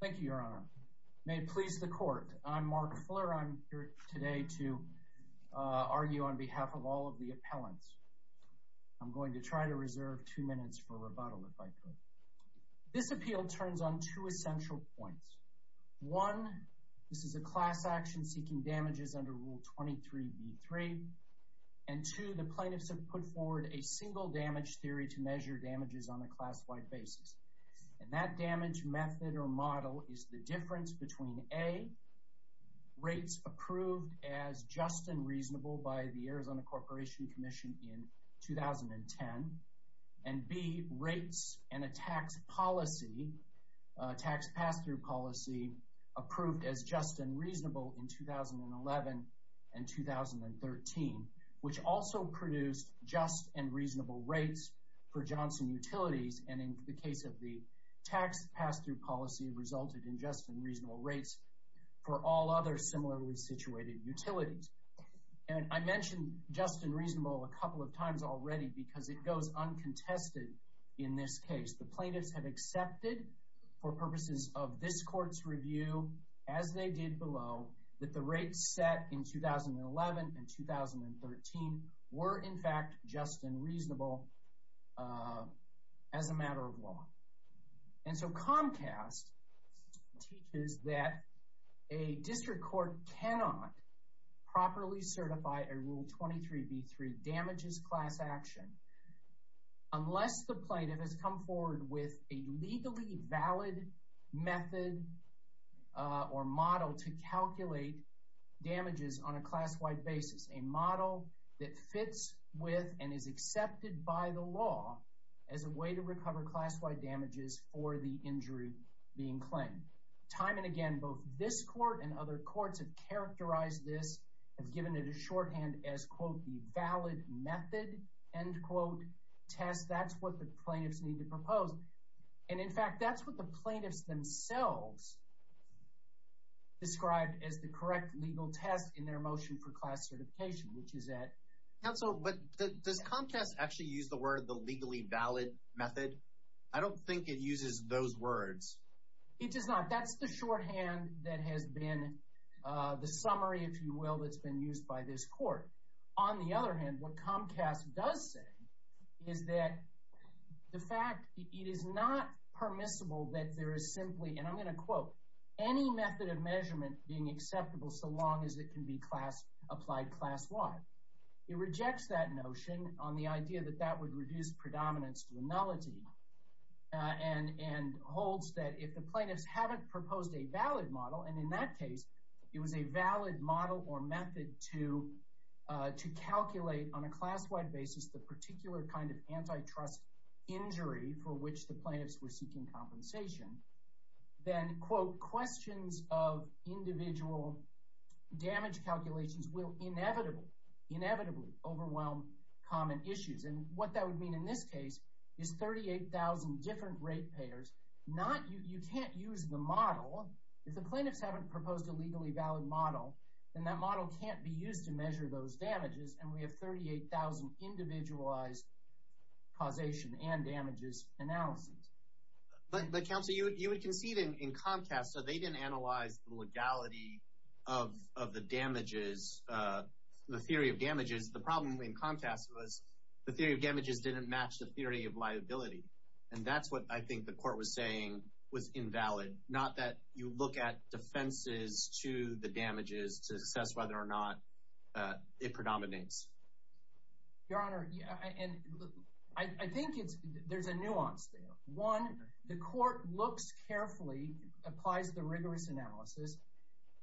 Thank you, Your Honor. May it please the Court, I'm Mark Fuller. I'm here today to argue on behalf of all of the appellants. I'm going to try to reserve two minutes for rebuttal, if I could. This appeal turns on two essential points. One, this is a class action seeking damages under Rule 23b-3. And two, the plaintiffs have put forward a single damage theory to measure damages on a class-wide basis. And that damage method or model is the difference between a, rates approved as just and reasonable by the Arizona Corporation Commission in 2010, and b, rates and a tax policy, tax pass-through policy, approved as just and reasonable in 2011 and 2013, which also produced just and reasonable rates for Johnson Utilities. And in the case of the tax pass-through policy, it resulted in just and reasonable rates for all other similarly situated utilities. And I mentioned just and reasonable a couple of times already because it goes uncontested in this case. The plaintiffs have accepted, for purposes of this Court's review, as they did below, that the rates set in 2011 and 2013 were, in fact, just and reasonable as a matter of law. And so Comcast teaches that a district court cannot properly certify a Rule 23b-3 damages class action unless the plaintiff has come forward with a legally valid method or model to calculate damages on a class-wide basis, a model that fits with and is accepted by the law as a way to recover class-wide damages for the injury being claimed. Time and again, both this Court and other courts have characterized this, have given it a shorthand as, quote, the valid method, end quote, test. That's what the plaintiffs need to propose. And, in fact, that's what the plaintiffs themselves described as the correct legal test in their motion for class certification, which is that— Counsel, but does Comcast actually use the word the legally valid method? I don't think it uses those words. It does not. That's the shorthand that has been the summary, if you will, that's been used by this Court. On the other hand, what Comcast does say is that the fact—it is not permissible that there is simply, and I'm going to quote, any method of measurement being acceptable so long as it can be applied class-wide. It rejects that notion on the idea that that would reduce predominance to a nullity and holds that if the plaintiffs haven't proposed a valid model, and in that case, it was a valid model or method to calculate on a class-wide basis the particular kind of antitrust injury for which the plaintiffs were seeking compensation, then, quote, questions of individual damage calculations will inevitably overwhelm common issues. And what that would mean in this case is 38,000 different rate payers, not—you can't use the model. If the plaintiffs haven't proposed a legally valid model, then that model can't be used to measure those damages, and we have 38,000 individualized causation and damages analyses. But, Counsel, you would concede in Comcast that they didn't analyze the legality of the damages, the theory of damages. The problem in Comcast was the theory of damages didn't match the theory of liability, and that's what I think the Court was saying was invalid, not that you look at defenses to the damages to assess whether or not it predominates. Your Honor, I think there's a nuance there. One, the Court looks carefully, applies the rigorous analysis,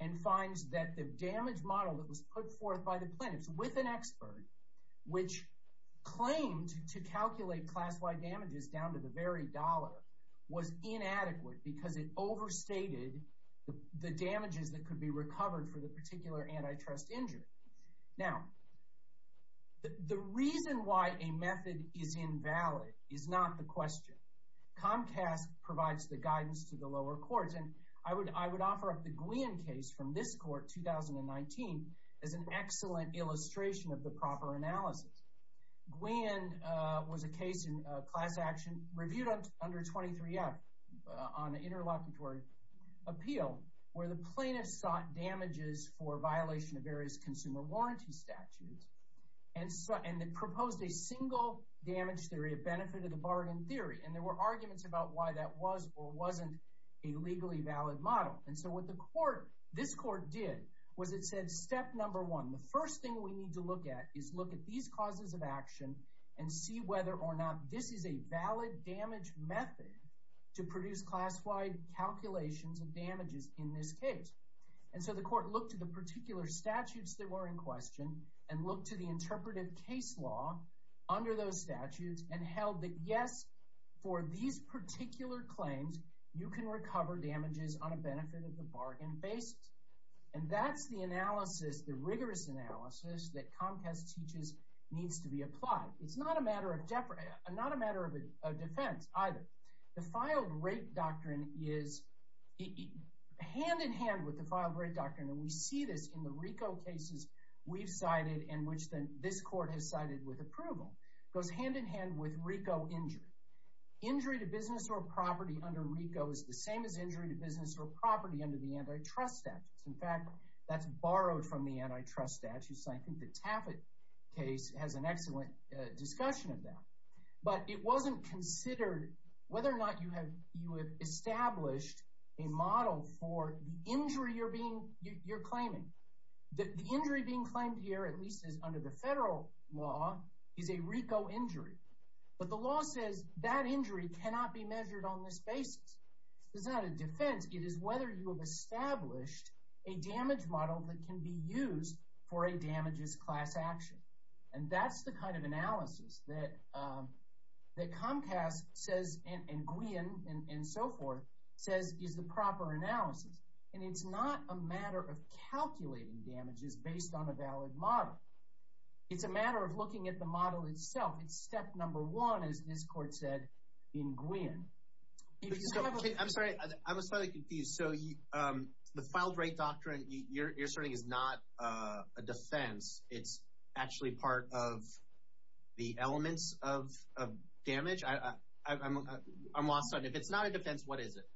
and finds that the damage model that was put forth by the plaintiffs with an expert, which claimed to calculate class-wide damages down to the very dollar, was inadequate because it overstated the damages that could be recovered for the particular antitrust injury. Now, the reason why a method is invalid is not the question. Comcast provides the guidance to the lower courts, and I would offer up the Gwian case from this Court, 2019, as an excellent illustration of the proper analysis. Gwian was a case in class action reviewed under 23F on interlocutory appeal where the plaintiffs sought damages for violation of various consumer warranty statutes and proposed a single damage theory of benefit of the bargain theory. And there were arguments about why that was or wasn't a legally valid model. And so what this Court did was it said, step number one, the first thing we need to look at is look at these causes of action and see whether or not this is a valid damage method to produce class-wide calculations of damages in this case. And so the Court looked at the particular statutes that were in question and looked to the interpretive case law under those statutes and held that, yes, for these particular claims, you can recover damages on a benefit of the bargain basis. And that's the analysis, the rigorous analysis, that Comcast teaches needs to be applied. It's not a matter of defense either. The filed-rape doctrine is hand-in-hand with the filed-rape doctrine. And we see this in the RICO cases we've cited and which this Court has cited with approval. It goes hand-in-hand with RICO injury. Injury to business or property under RICO is the same as injury to business or property under the antitrust statutes. In fact, that's borrowed from the antitrust statutes. I think the Taffet case has an excellent discussion of that. But it wasn't considered whether or not you have established a model for the injury you're claiming. The injury being claimed here, at least under the federal law, is a RICO injury. But the law says that injury cannot be measured on this basis. It's not a defense. It is whether you have established a damage model that can be used for a damages class action. And that's the kind of analysis that Comcast says and Gwian and so forth says is the proper analysis. And it's not a matter of calculating damages based on a valid model. It's a matter of looking at the model itself. It's step number one, as this Court said, in Gwian. I'm sorry. I'm slightly confused. So the filed-rate doctrine you're asserting is not a defense. It's actually part of the elements of damage? I'm lost on it. If it's not a defense, what is it?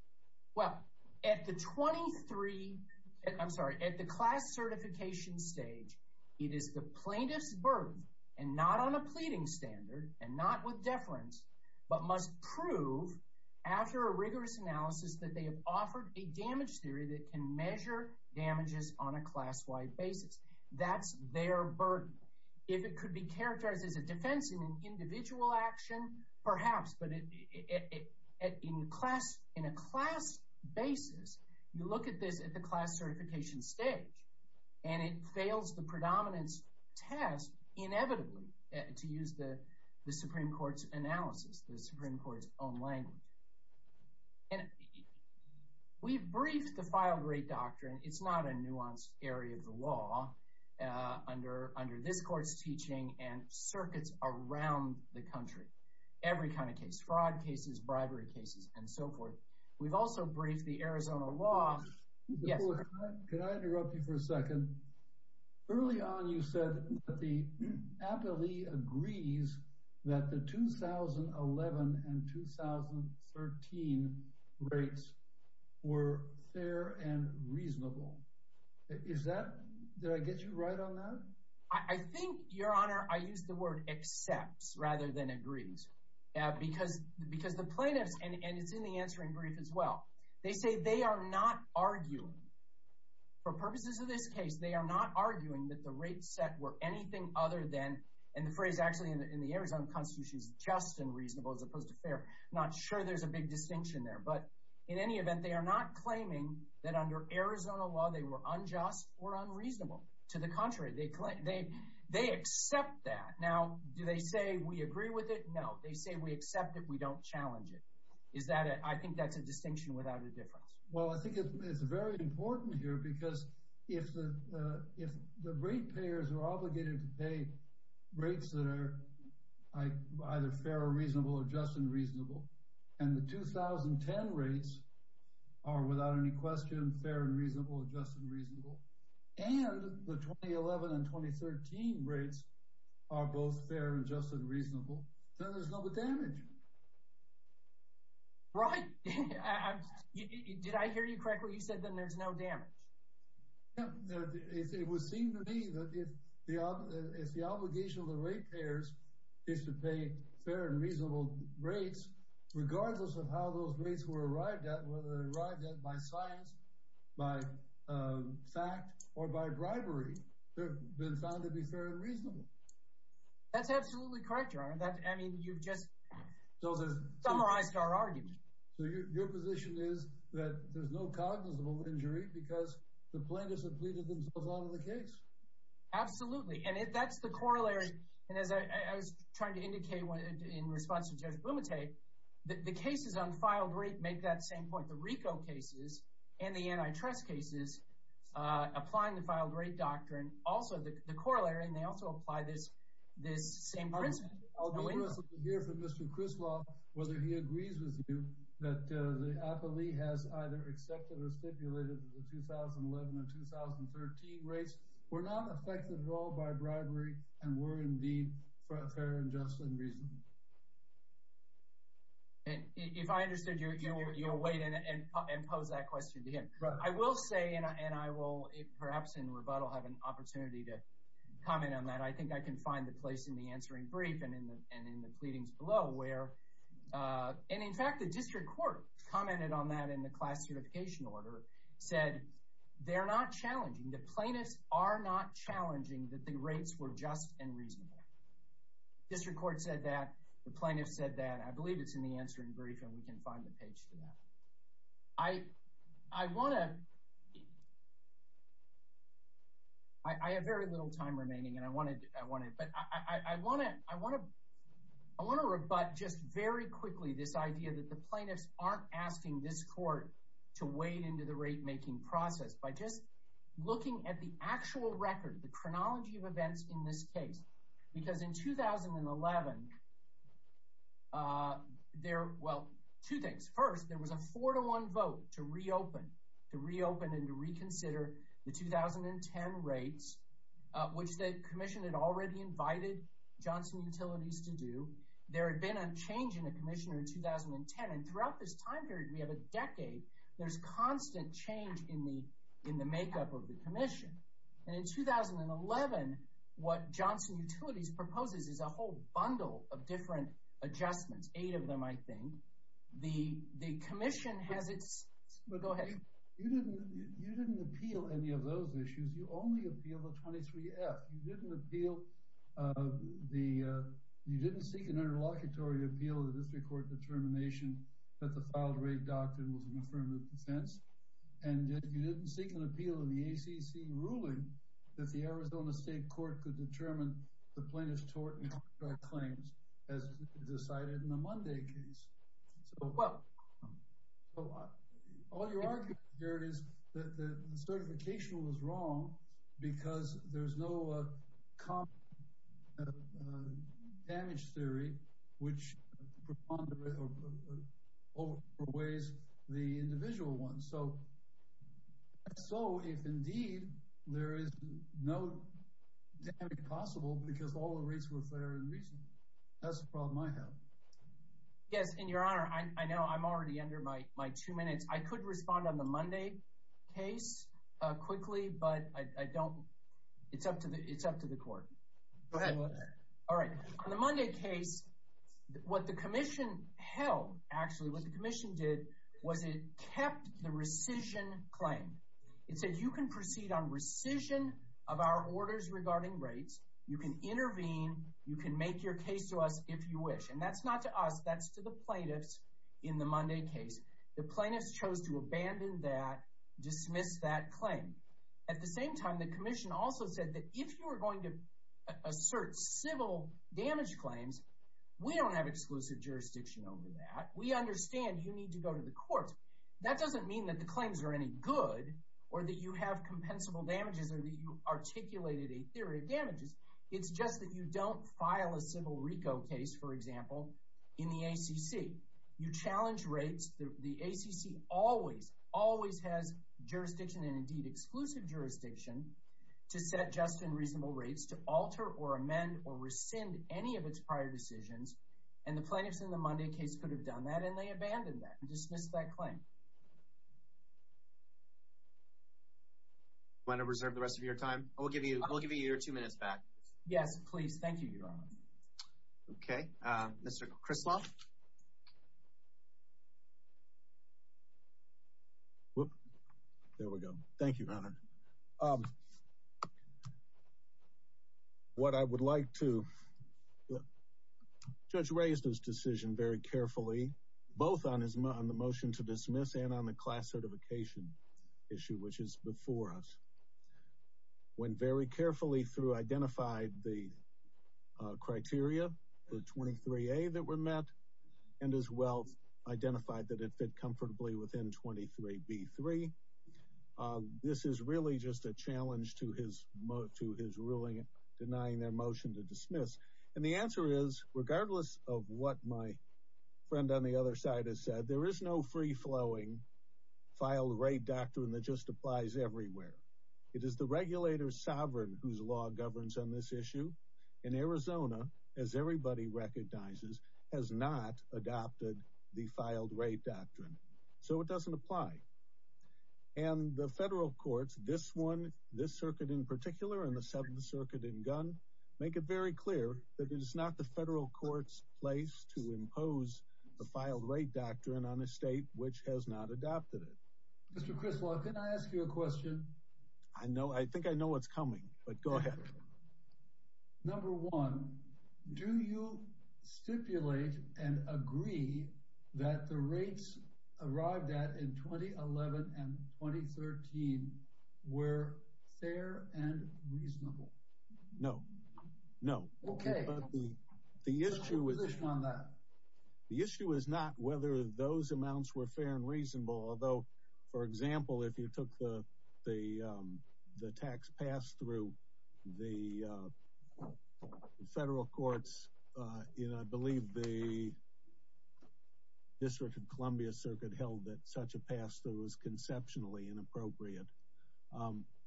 Well, at the 23—I'm sorry. At the class certification stage, it is the plaintiff's birth, and not on a pleading standard and not with deference, but must prove after a rigorous analysis that they have offered a damage theory that can measure damages on a class-wide basis. That's their burden. If it could be characterized as a defense in an individual action, perhaps. But in a class basis, you look at this at the class certification stage, and it fails the predominance test inevitably, to use the Supreme Court's analysis, the Supreme Court's own language. And we've briefed the filed-rate doctrine. It's not a nuanced area of the law under this Court's teaching and circuits around the country. Every kind of case—fraud cases, bribery cases, and so forth. We've also briefed the Arizona law. Yes, sir. Could I interrupt you for a second? Early on you said that the appellee agrees that the 2011 and 2013 rates were fair and reasonable. Is that—did I get you right on that? I think, Your Honor, I used the word accepts rather than agrees. Because the plaintiffs—and it's in the answering brief as well—they say they are not arguing. For purposes of this case, they are not arguing that the rates set were anything other than—and the phrase actually in the Arizona Constitution is just and reasonable as opposed to fair. I'm not sure there's a big distinction there. But in any event, they are not claiming that under Arizona law they were unjust or unreasonable. To the contrary, they accept that. Now, do they say we agree with it? No. They say we accept it. We don't challenge it. Is that a—I think that's a distinction without a difference. Well, I think it's very important here because if the rate payers are obligated to pay rates that are either fair or reasonable or just and reasonable, and the 2010 rates are without any question fair and reasonable or just and reasonable, and the 2011 and 2013 rates are both fair and just and reasonable, then there's no damage. Right. Did I hear you correctly? You said then there's no damage. It would seem to me that if the obligation of the rate payers is to pay fair and reasonable rates, regardless of how those rates were arrived at, whether they arrived at by science, by fact, or by bribery, they've been found to be fair and reasonable. That's absolutely correct, Your Honor. I mean you've just summarized our argument. So your position is that there's no cognizable injury because the plaintiffs have pleaded themselves on to the case. Absolutely, and that's the corollary. And as I was trying to indicate in response to Judge Blumenthal, the cases on filed rate make that same point. The RICO cases and the antitrust cases, applying the filed rate doctrine, also the corollary, and they also apply this same principle. I'll be interested to hear from Mr. Crislaw whether he agrees with you that the appellee has either accepted or stipulated that the 2011 and 2013 rates were not affected at all by bribery and were indeed fair and just and reasonable. If I understood you, you'll wait and pose that question to him. I will say, and I will perhaps in rebuttal have an opportunity to comment on that. I think I can find the place in the answering brief and in the pleadings below where, and in fact the district court commented on that in the class certification order, said they're not challenging. The plaintiffs are not challenging that the rates were just and reasonable. District court said that. The plaintiffs said that. I believe it's in the answering brief, and we can find the page for that. I have very little time remaining, and I want to rebut just very quickly this idea that the plaintiffs aren't asking this court to wade into the rate making process by just looking at the actual record, the chronology of events in this case. Because in 2011, there, well, two things. First, there was a four-to-one vote to reopen and to reconsider the 2010 rates, which the commission had already invited Johnson Utilities to do. There had been a change in the commissioner in 2010, and throughout this time period, we have a decade, there's constant change in the makeup of the commission. And in 2011, what Johnson Utilities proposes is a whole bundle of different adjustments, eight of them, I think. The commission has its, go ahead. You didn't appeal any of those issues. You only appealed the 23F. You didn't appeal the, you didn't seek an interlocutory appeal of the district court determination that the filed rate doctrine was an affirmative defense. And you didn't seek an appeal in the ACC ruling that the Arizona State Court could determine the plaintiff's tort and contract claims as decided in the Monday case. So all your argument here is that the certification was wrong because there's no damage theory which overweighs the individual ones. So if, indeed, there is no damage possible because all the rates were fair and reasonable, that's the problem I have. Yes, in your honor, I know I'm already under my two minutes. I could respond on the Monday case quickly, but I don't, it's up to the court. Go ahead. All right. On the Monday case, what the commission held, actually, what the commission did was it kept the rescission claim. It said you can proceed on rescission of our orders regarding rates. You can intervene. You can make your case to us if you wish. And that's not to us. That's to the plaintiffs in the Monday case. The plaintiffs chose to abandon that, dismiss that claim. At the same time, the commission also said that if you were going to assert civil damage claims, we don't have exclusive jurisdiction over that. We understand you need to go to the courts. That doesn't mean that the claims are any good or that you have compensable damages or that you articulated a theory of damages. It's just that you don't file a civil RICO case, for example, in the ACC. You challenge rates. The ACC always, always has jurisdiction and, indeed, exclusive jurisdiction to set just and reasonable rates to alter or amend or rescind any of its prior decisions. And the plaintiffs in the Monday case could have done that, and they abandoned that and dismissed that claim. Do you want to reserve the rest of your time? I will give you your two minutes back. Yes, please. Thank you, Your Honor. Okay. Mr. Crisloff? There we go. Thank you, Your Honor. What I would like to – the judge raised his decision very carefully, both on the motion to dismiss and on the class certification issue, which is before us. Went very carefully through, identified the criteria, the 23A that were met, and as well identified that it fit comfortably within 23B3. This is really just a challenge to his ruling denying their motion to dismiss. And the answer is, regardless of what my friend on the other side has said, there is no free-flowing filed-rate doctrine that just applies everywhere. It is the regulator's sovereign whose law governs on this issue in Arizona, as everybody recognizes, has not adopted the filed-rate doctrine. So it doesn't apply. And the federal courts, this one, this circuit in particular, and the Seventh Circuit in Gunn, make it very clear that it is not the federal court's place to impose the filed-rate doctrine on a state which has not adopted it. Mr. Crisloff, can I ask you a question? I think I know what's coming, but go ahead. Number one, do you stipulate and agree that the rates arrived at in 2011 and 2013 were fair and reasonable? No. No. Okay. The issue is not whether those amounts were fair and reasonable, although, for example, if you took the tax pass-through, the federal courts, and I believe the District of Columbia Circuit held that such a pass-through was conceptually inappropriate.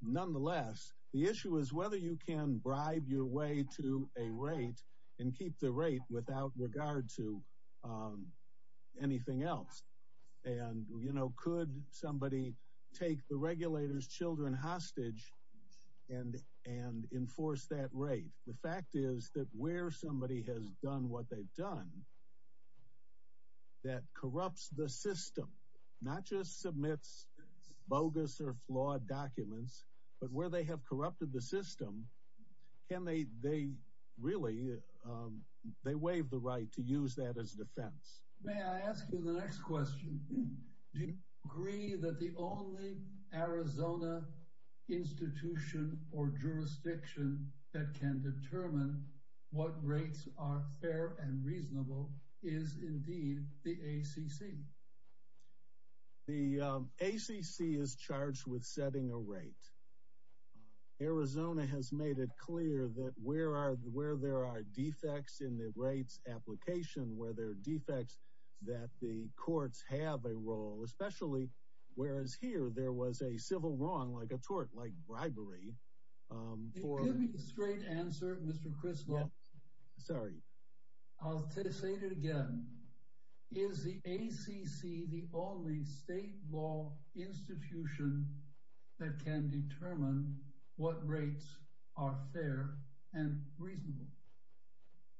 Nonetheless, the issue is whether you can bribe your way to a rate and keep the rate without regard to anything else. And, you know, could somebody take the regulator's children hostage and enforce that rate? The fact is that where somebody has done what they've done, that corrupts the system, not just submits bogus or flawed documents, but where they have corrupted the system, can they really, they waive the right to use that as defense. May I ask you the next question? Do you agree that the only Arizona institution or jurisdiction that can determine what rates are fair and reasonable is indeed the ACC? The ACC is charged with setting a rate. Arizona has made it clear that where there are defects in the rates application, where there are defects, that the courts have a role, especially whereas here there was a civil wrong, like a tort, like bribery. Give me a straight answer, Mr. Criswell. Sorry. I'll say it again. Is the ACC the only state law institution that can determine what rates are fair and reasonable?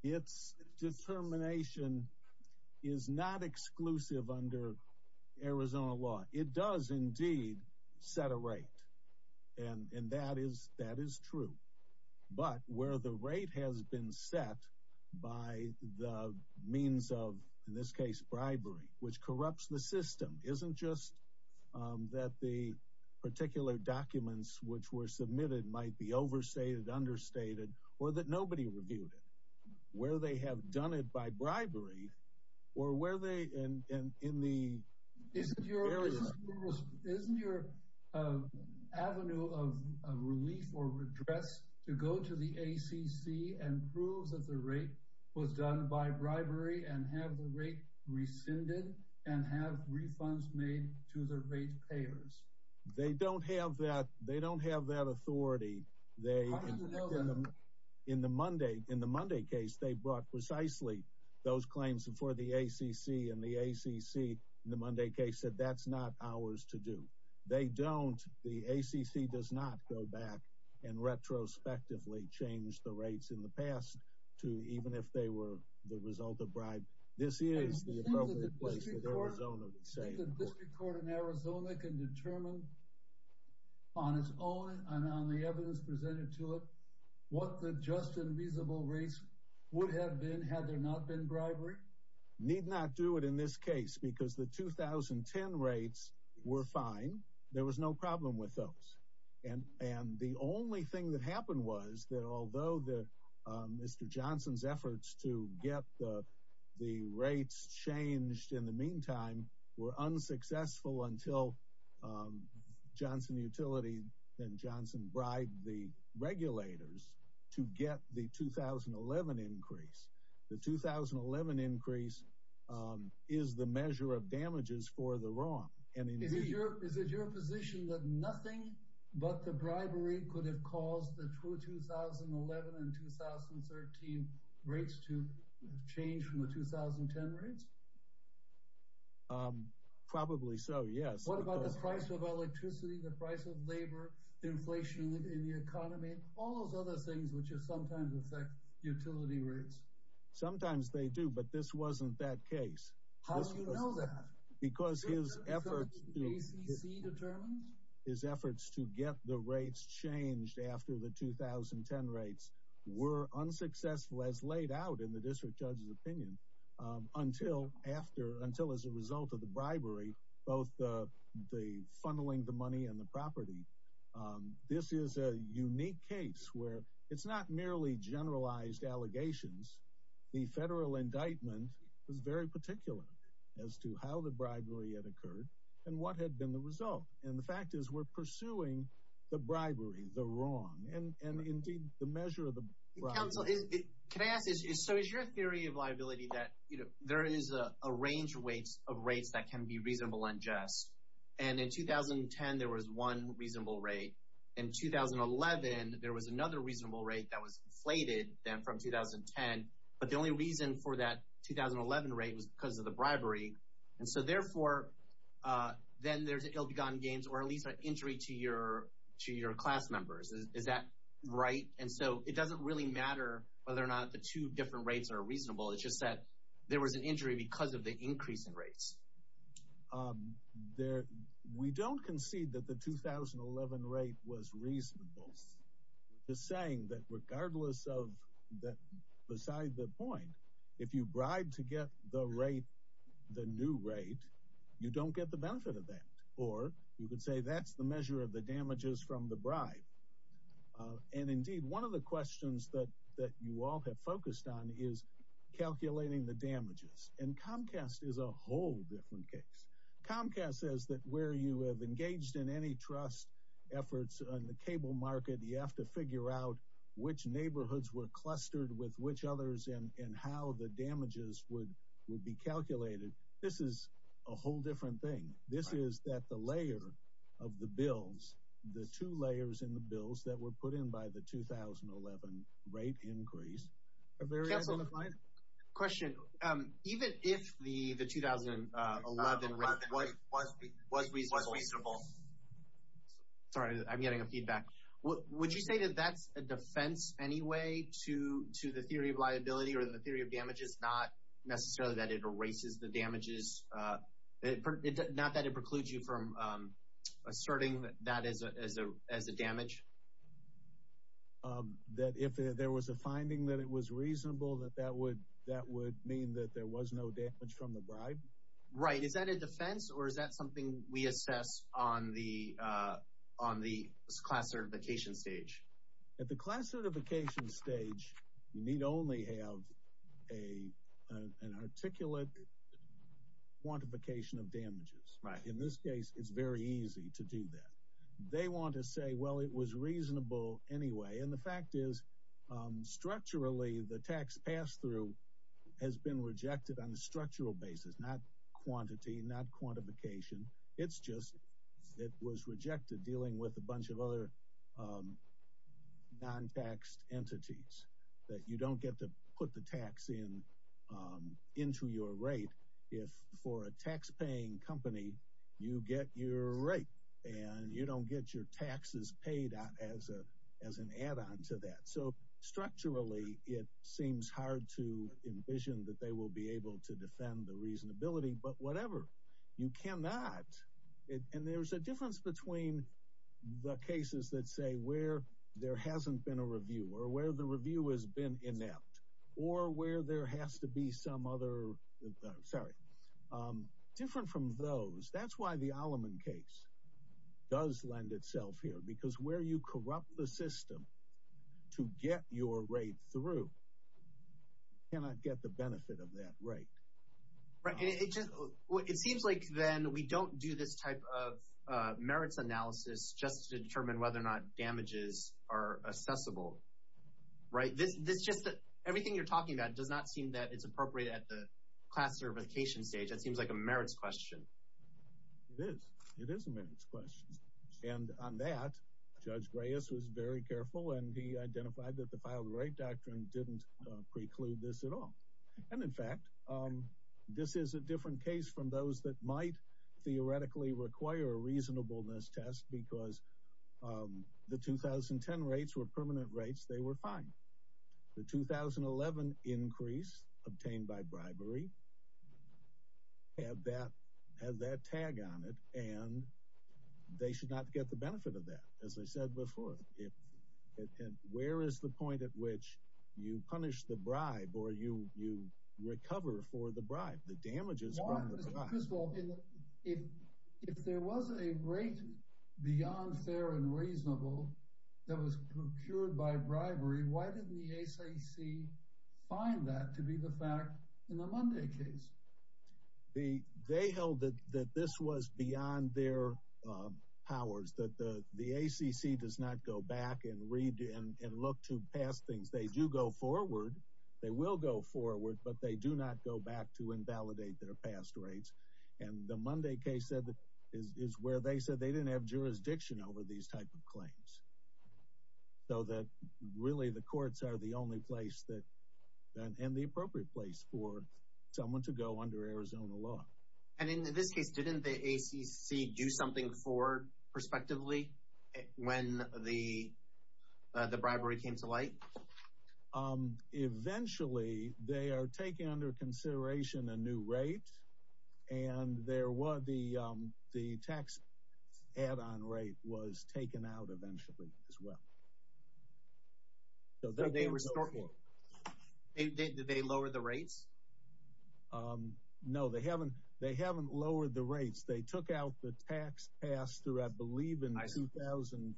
Its determination is not exclusive under Arizona law. It does indeed set a rate. And that is true. But where the rate has been set by the means of, in this case, bribery, which corrupts the system, isn't just that the particular documents which were submitted might be overstated, understated, or that nobody reviewed it. Where they have done it by bribery, or where they, in the area. Isn't your avenue of relief or redress to go to the ACC and prove that the rate was done by bribery and have the rate rescinded and have refunds made to the rate payers? They don't have that. They don't have that authority. How do you know that? In the Monday case, they brought precisely those claims before the ACC. And the ACC, in the Monday case, said that's not ours to do. They don't. The ACC does not go back and retrospectively change the rates in the past to even if they were the result of bribe. Do you think the District Court in Arizona can determine on its own and on the evidence presented to it what the just and reasonable rates would have been had there not been bribery? Need not do it in this case because the 2010 rates were fine. There was no problem with those. And the only thing that happened was that although Mr. Johnson's efforts to get the rates changed in the meantime were unsuccessful until Johnson Utility and Johnson bribed the regulators to get the 2011 increase. The 2011 increase is the measure of damages for the wrong. Is it your position that nothing but the bribery could have caused the true 2011 and 2013 rates to change from the 2010 rates? Probably so, yes. What about the price of electricity, the price of labor, inflation in the economy, all those other things which sometimes affect utility rates? Sometimes they do, but this wasn't that case. How do you know that? Because his efforts to get the rates changed after the 2010 rates were unsuccessful as laid out in the District Judge's opinion until as a result of the bribery, both the funneling the money and the property. This is a unique case where it's not merely generalized allegations. The federal indictment is very particular as to how the bribery had occurred and what had been the result. And the fact is we're pursuing the bribery, the wrong, and indeed the measure of the bribery. Can I ask this? So is your theory of liability that there is a range of rates that can be reasonable and just? And in 2010, there was one reasonable rate. In 2011, there was another reasonable rate that was inflated then from 2010, but the only reason for that 2011 rate was because of the bribery. And so therefore, then there's ill-begotten gains or at least an injury to your class members. Is that right? And so it doesn't really matter whether or not the two different rates are reasonable. It's just that there was an injury because of the increase in rates. We don't concede that the 2011 rate was reasonable. We're just saying that regardless of that beside the point, if you bribe to get the rate, the new rate, you don't get the benefit of that. Or you could say that's the measure of the damages from the bribe. And indeed, one of the questions that that you all have focused on is calculating the damages. And Comcast is a whole different case. Comcast says that where you have engaged in any trust efforts on the cable market, you have to figure out which neighborhoods were clustered with which others and how the damages would would be calculated. This is a whole different thing. This is that the layer of the bills, the two layers in the bills that were put in by the 2011 rate increase. Question. Even if the 2011 rate was reasonable. Sorry, I'm getting a feedback. Would you say that that's a defense anyway to to the theory of liability or the theory of damages? Not necessarily that it erases the damages, not that it precludes you from asserting that as a as a as a damage. That if there was a finding that it was reasonable, that that would that would mean that there was no damage from the bribe. Right. Is that a defense or is that something we assess on the on the class certification stage? At the class certification stage, you need only have a an articulate quantification of damages. In this case, it's very easy to do that. They want to say, well, it was reasonable anyway. And the fact is, structurally, the tax pass through has been rejected on a structural basis, not quantity, not quantification. It's just it was rejected dealing with a bunch of other non taxed entities that you don't get to put the tax in into your rate. If for a tax paying company, you get your rate and you don't get your taxes paid out as a as an add on to that. So structurally, it seems hard to envision that they will be able to defend the reasonability. But whatever you cannot. And there's a difference between the cases that say where there hasn't been a review or where the review has been inept or where there has to be some other. Sorry. Different from those. That's why the Alleman case does lend itself here, because where you corrupt the system to get your rate through. Cannot get the benefit of that right. It seems like then we don't do this type of merits analysis just to determine whether or not damages are assessable. Right. This is just that everything you're talking about does not seem that it's appropriate at the classification stage. That seems like a merits question. It is. It is a merits question. And on that, Judge Reyes was very careful and he identified that the filed rate doctrine didn't preclude this at all. And in fact, this is a different case from those that might theoretically require a reasonableness test because the 2010 rates were permanent rates. They were fine. The 2011 increase obtained by bribery. Have that have that tag on it, and they should not get the benefit of that, as I said before. And where is the point at which you punish the bribe or you you recover for the bribe? First of all, if there was a rate beyond fair and reasonable that was procured by bribery, why didn't the SEC find that to be the fact in the Monday case? They held that this was beyond their powers, that the SEC does not go back and read and look to pass things. They do go forward. They will go forward, but they do not go back to invalidate their past rates. And the Monday case said that is where they said they didn't have jurisdiction over these type of claims. So that really the courts are the only place that and the appropriate place for someone to go under Arizona law. And in this case, didn't the SEC do something for respectively when the bribery came to light? Eventually, they are taking under consideration a new rate, and there was the the tax add-on rate was taken out eventually as well. So they were short. Did they lower the rates? No, they haven't. They haven't lowered the rates. They took out the tax passed through, I believe, in 2015.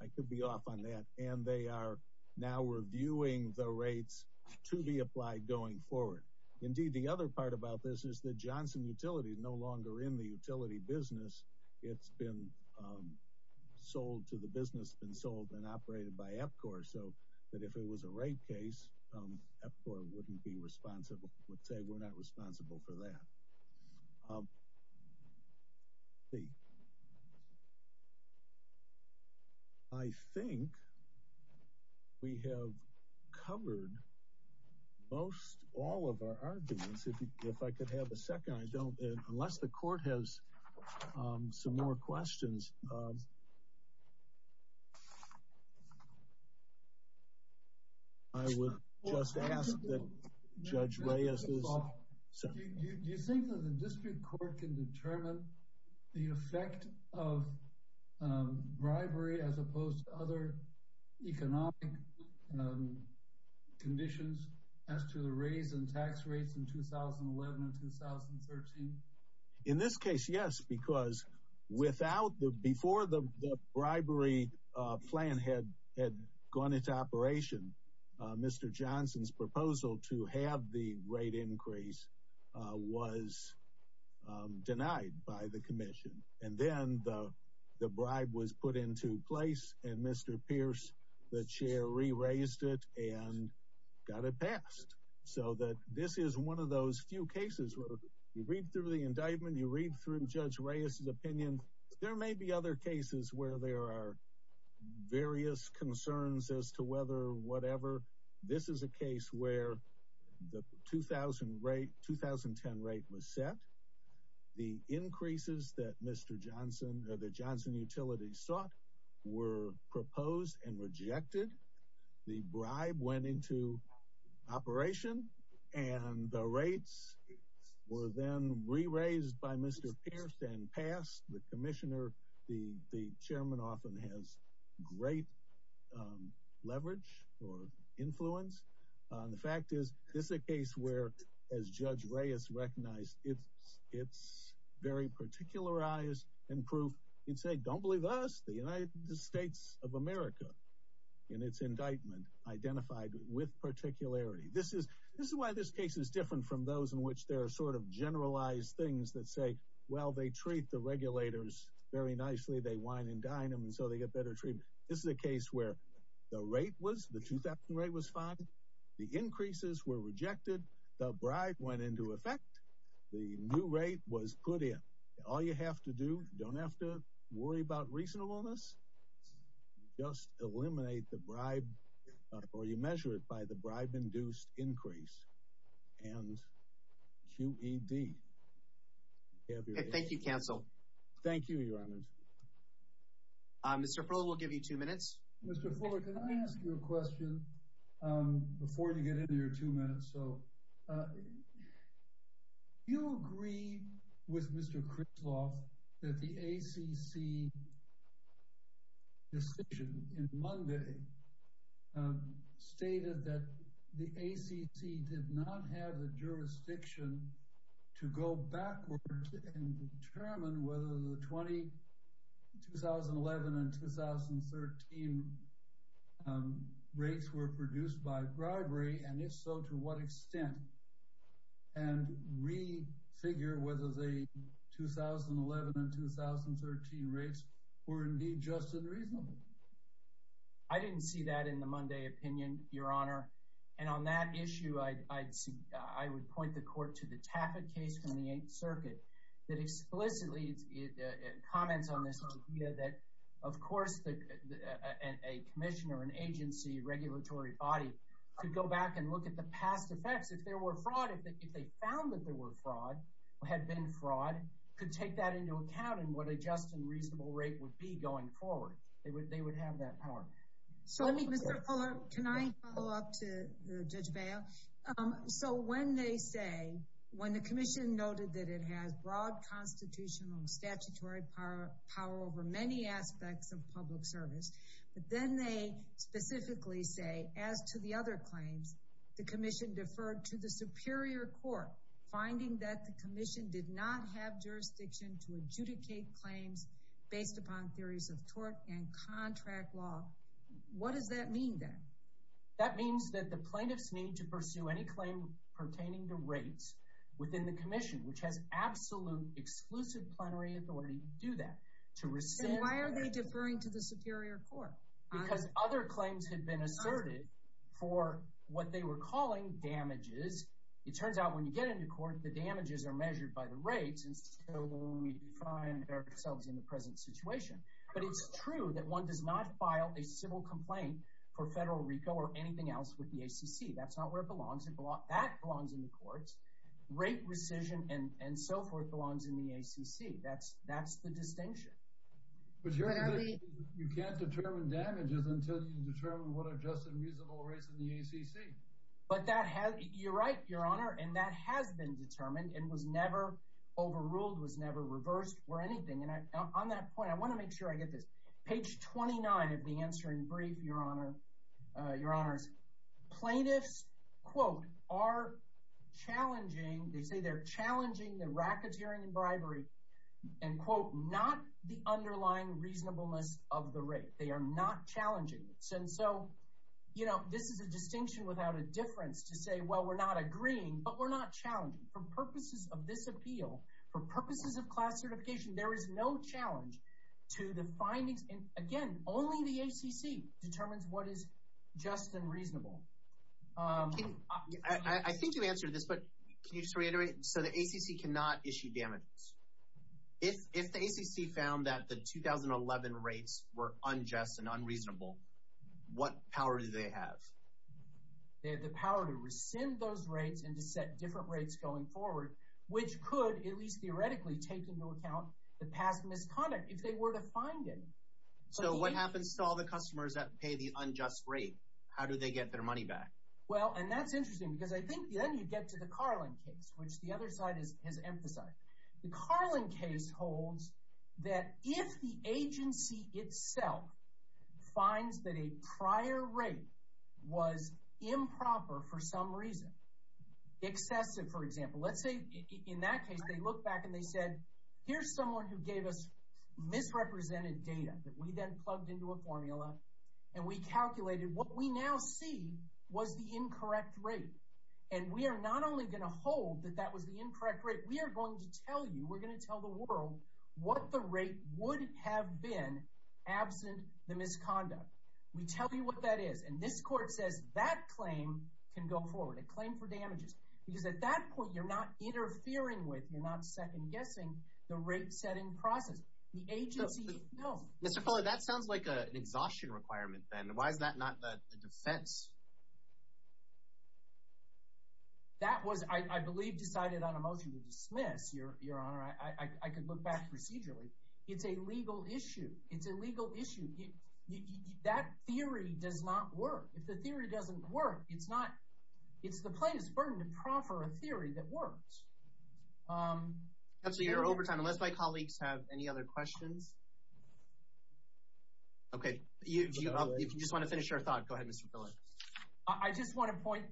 I could be off on that. And they are now reviewing the rates to be applied going forward. Indeed, the other part about this is that Johnson Utility is no longer in the utility business. It's been sold to the business, been sold and operated by EPCOR. So that if it was a rape case, EPCOR wouldn't be responsible would say we're not responsible for that. I think we have covered most all of our arguments. If I could have a second, I don't unless the court has some more questions. Do you think that the district court can determine the effect of bribery as opposed to other economic conditions as to the raise in tax rates in 2011 and 2013? In this case, yes, because without the before the bribery plan had had gone into operation. Mr. Johnson's proposal to have the rate increase was denied by the commission. And then the bribe was put into place. And Mr. Pierce, the chair, re-raised it and got it passed. So that this is one of those few cases where you read through the indictment, you read through Judge Reyes's opinion. There may be other cases where there are various concerns as to whether whatever. This is a case where the 2000 rate, 2010 rate was set. The increases that Mr. Johnson, the Johnson Utility sought were proposed and rejected. The bribe went into operation and the rates were then re-raised by Mr. Pierce and passed. The commissioner, the chairman often has great leverage or influence. The fact is, this is a case where, as Judge Reyes recognized, it's very particularized and proof. You'd say, don't believe us. The United States of America, in its indictment, identified with particularity. This is why this case is different from those in which there are sort of generalized things that say, well, they treat the regulators very nicely. They wine and dine them and so they get better treatment. This is a case where the rate was, the 2000 rate was fine. The increases were rejected. The bribe went into effect. The new rate was put in. All you have to do, don't have to worry about reasonableness. Just eliminate the bribe or you measure it by the bribe-induced increase and QED. Thank you, counsel. Thank you, your honor. Mr. Fuller, we'll give you two minutes. Mr. Fuller, can I ask you a question before you get into your two minutes? Do you agree with Mr. Crisloff that the ACC decision in Monday stated that the ACC did not have the jurisdiction to go backwards and determine whether the 2011 and 2013 rates were produced by bribery? And if so, to what extent? And re-figure whether the 2011 and 2013 rates were indeed just and reasonable. I didn't see that in the Monday opinion, your honor. And on that issue, I would point the court to the Taffet case from the Eighth Circuit that explicitly comments on this idea that, of course, a commissioner, an agency, a regulatory body could go back and look at the past effects. If there were fraud, if they found that there were fraud, had been fraud, could take that into account in what a just and reasonable rate would be going forward. They would have that power. Mr. Fuller, can I follow up to Judge Bail? So when they say, when the commission noted that it has broad constitutional and statutory power over many aspects of public service, but then they specifically say, as to the other claims, the commission deferred to the superior court, finding that the commission did not have jurisdiction to adjudicate claims based upon theories of tort and contract law. What does that mean then? That means that the plaintiffs need to pursue any claim pertaining to rates within the commission, which has absolute exclusive plenary authority to do that. Why are they deferring to the superior court? Because other claims had been asserted for what they were calling damages. It turns out when you get into court, the damages are measured by the rates, and so we find ourselves in the present situation. But it's true that one does not file a civil complaint for federal RICO or anything else with the ACC. That's not where it belongs. That belongs in the courts. Rate rescission and so forth belongs in the ACC. That's the distinction. But you can't determine damages until you determine what are just and reasonable rates in the ACC. But you're right, Your Honor, and that has been determined and was never overruled, was never reversed or anything. And on that point, I want to make sure I get this. Page 29 of the answering brief, Your Honors, plaintiffs, quote, are challenging. They say they're challenging the racketeering and bribery and, quote, not the underlying reasonableness of the rate. They are not challenging this. And so, you know, this is a distinction without a difference to say, well, we're not agreeing, but we're not challenging. For purposes of this appeal, for purposes of class certification, there is no challenge to the findings. And, again, only the ACC determines what is just and reasonable. I think you answered this, but can you just reiterate? So the ACC cannot issue damages. If the ACC found that the 2011 rates were unjust and unreasonable, what power do they have? They have the power to rescind those rates and to set different rates going forward, which could, at least theoretically, take into account the past misconduct if they were to find it. So what happens to all the customers that pay the unjust rate? How do they get their money back? Well, and that's interesting because I think then you get to the Carlin case, which the other side has emphasized. The Carlin case holds that if the agency itself finds that a prior rate was improper for some reason, excessive, for example, let's say in that case they look back and they said, here's someone who gave us misrepresented data that we then plugged into a formula, and we calculated what we now see was the incorrect rate, and we are not only going to hold that that was the incorrect rate, we are going to tell you, we're going to tell the world what the rate would have been absent the misconduct. We tell you what that is, and this court says that claim can go forward, a claim for damages, because at that point you're not interfering with, you're not second-guessing the rate-setting process. The agency itself— Mr. Fuller, that sounds like an exhaustion requirement then. Why is that not a defense? That was, I believe, decided on a motion to dismiss, Your Honor. I could look back procedurally. It's a legal issue. It's a legal issue. That theory does not work. If the theory doesn't work, it's not—it's the plaintiff's burden to proffer a theory that works. Absolutely, you're over time, unless my colleagues have any other questions. Okay, if you just want to finish your thought, go ahead, Mr. Fuller. I just want to point—my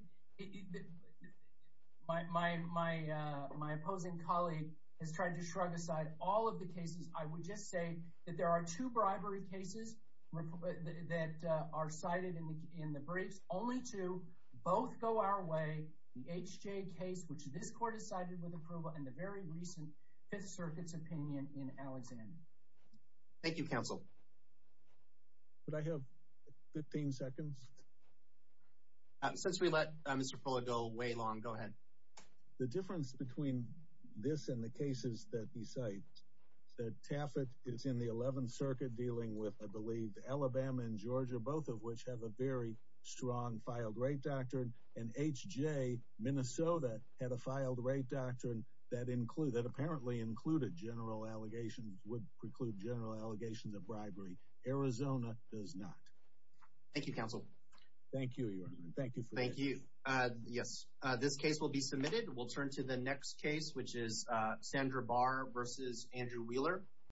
opposing colleague has tried to shrug aside all of the cases. I would just say that there are two bribery cases that are cited in the briefs, only two both go our way, the H.J. case, which this court has cited with approval, and the very recent Fifth Circuit's opinion in Alexander. Thank you, counsel. Could I have 15 seconds? Since we let Mr. Fuller go way long, go ahead. The difference between this and the cases that he cites is that Taffet is in the Eleventh Circuit dealing with, I believe, Alabama and Georgia, both of which have a very strong filed-rate doctrine, and H.J., Minnesota, had a filed-rate doctrine that apparently included general allegations, would preclude general allegations of bribery. Arizona does not. Thank you, counsel. Thank you, Your Honor. Thank you for that. Thank you. Yes, this case will be submitted. We'll turn to the next case, which is Sandra Barr v. Andrew Wheeler.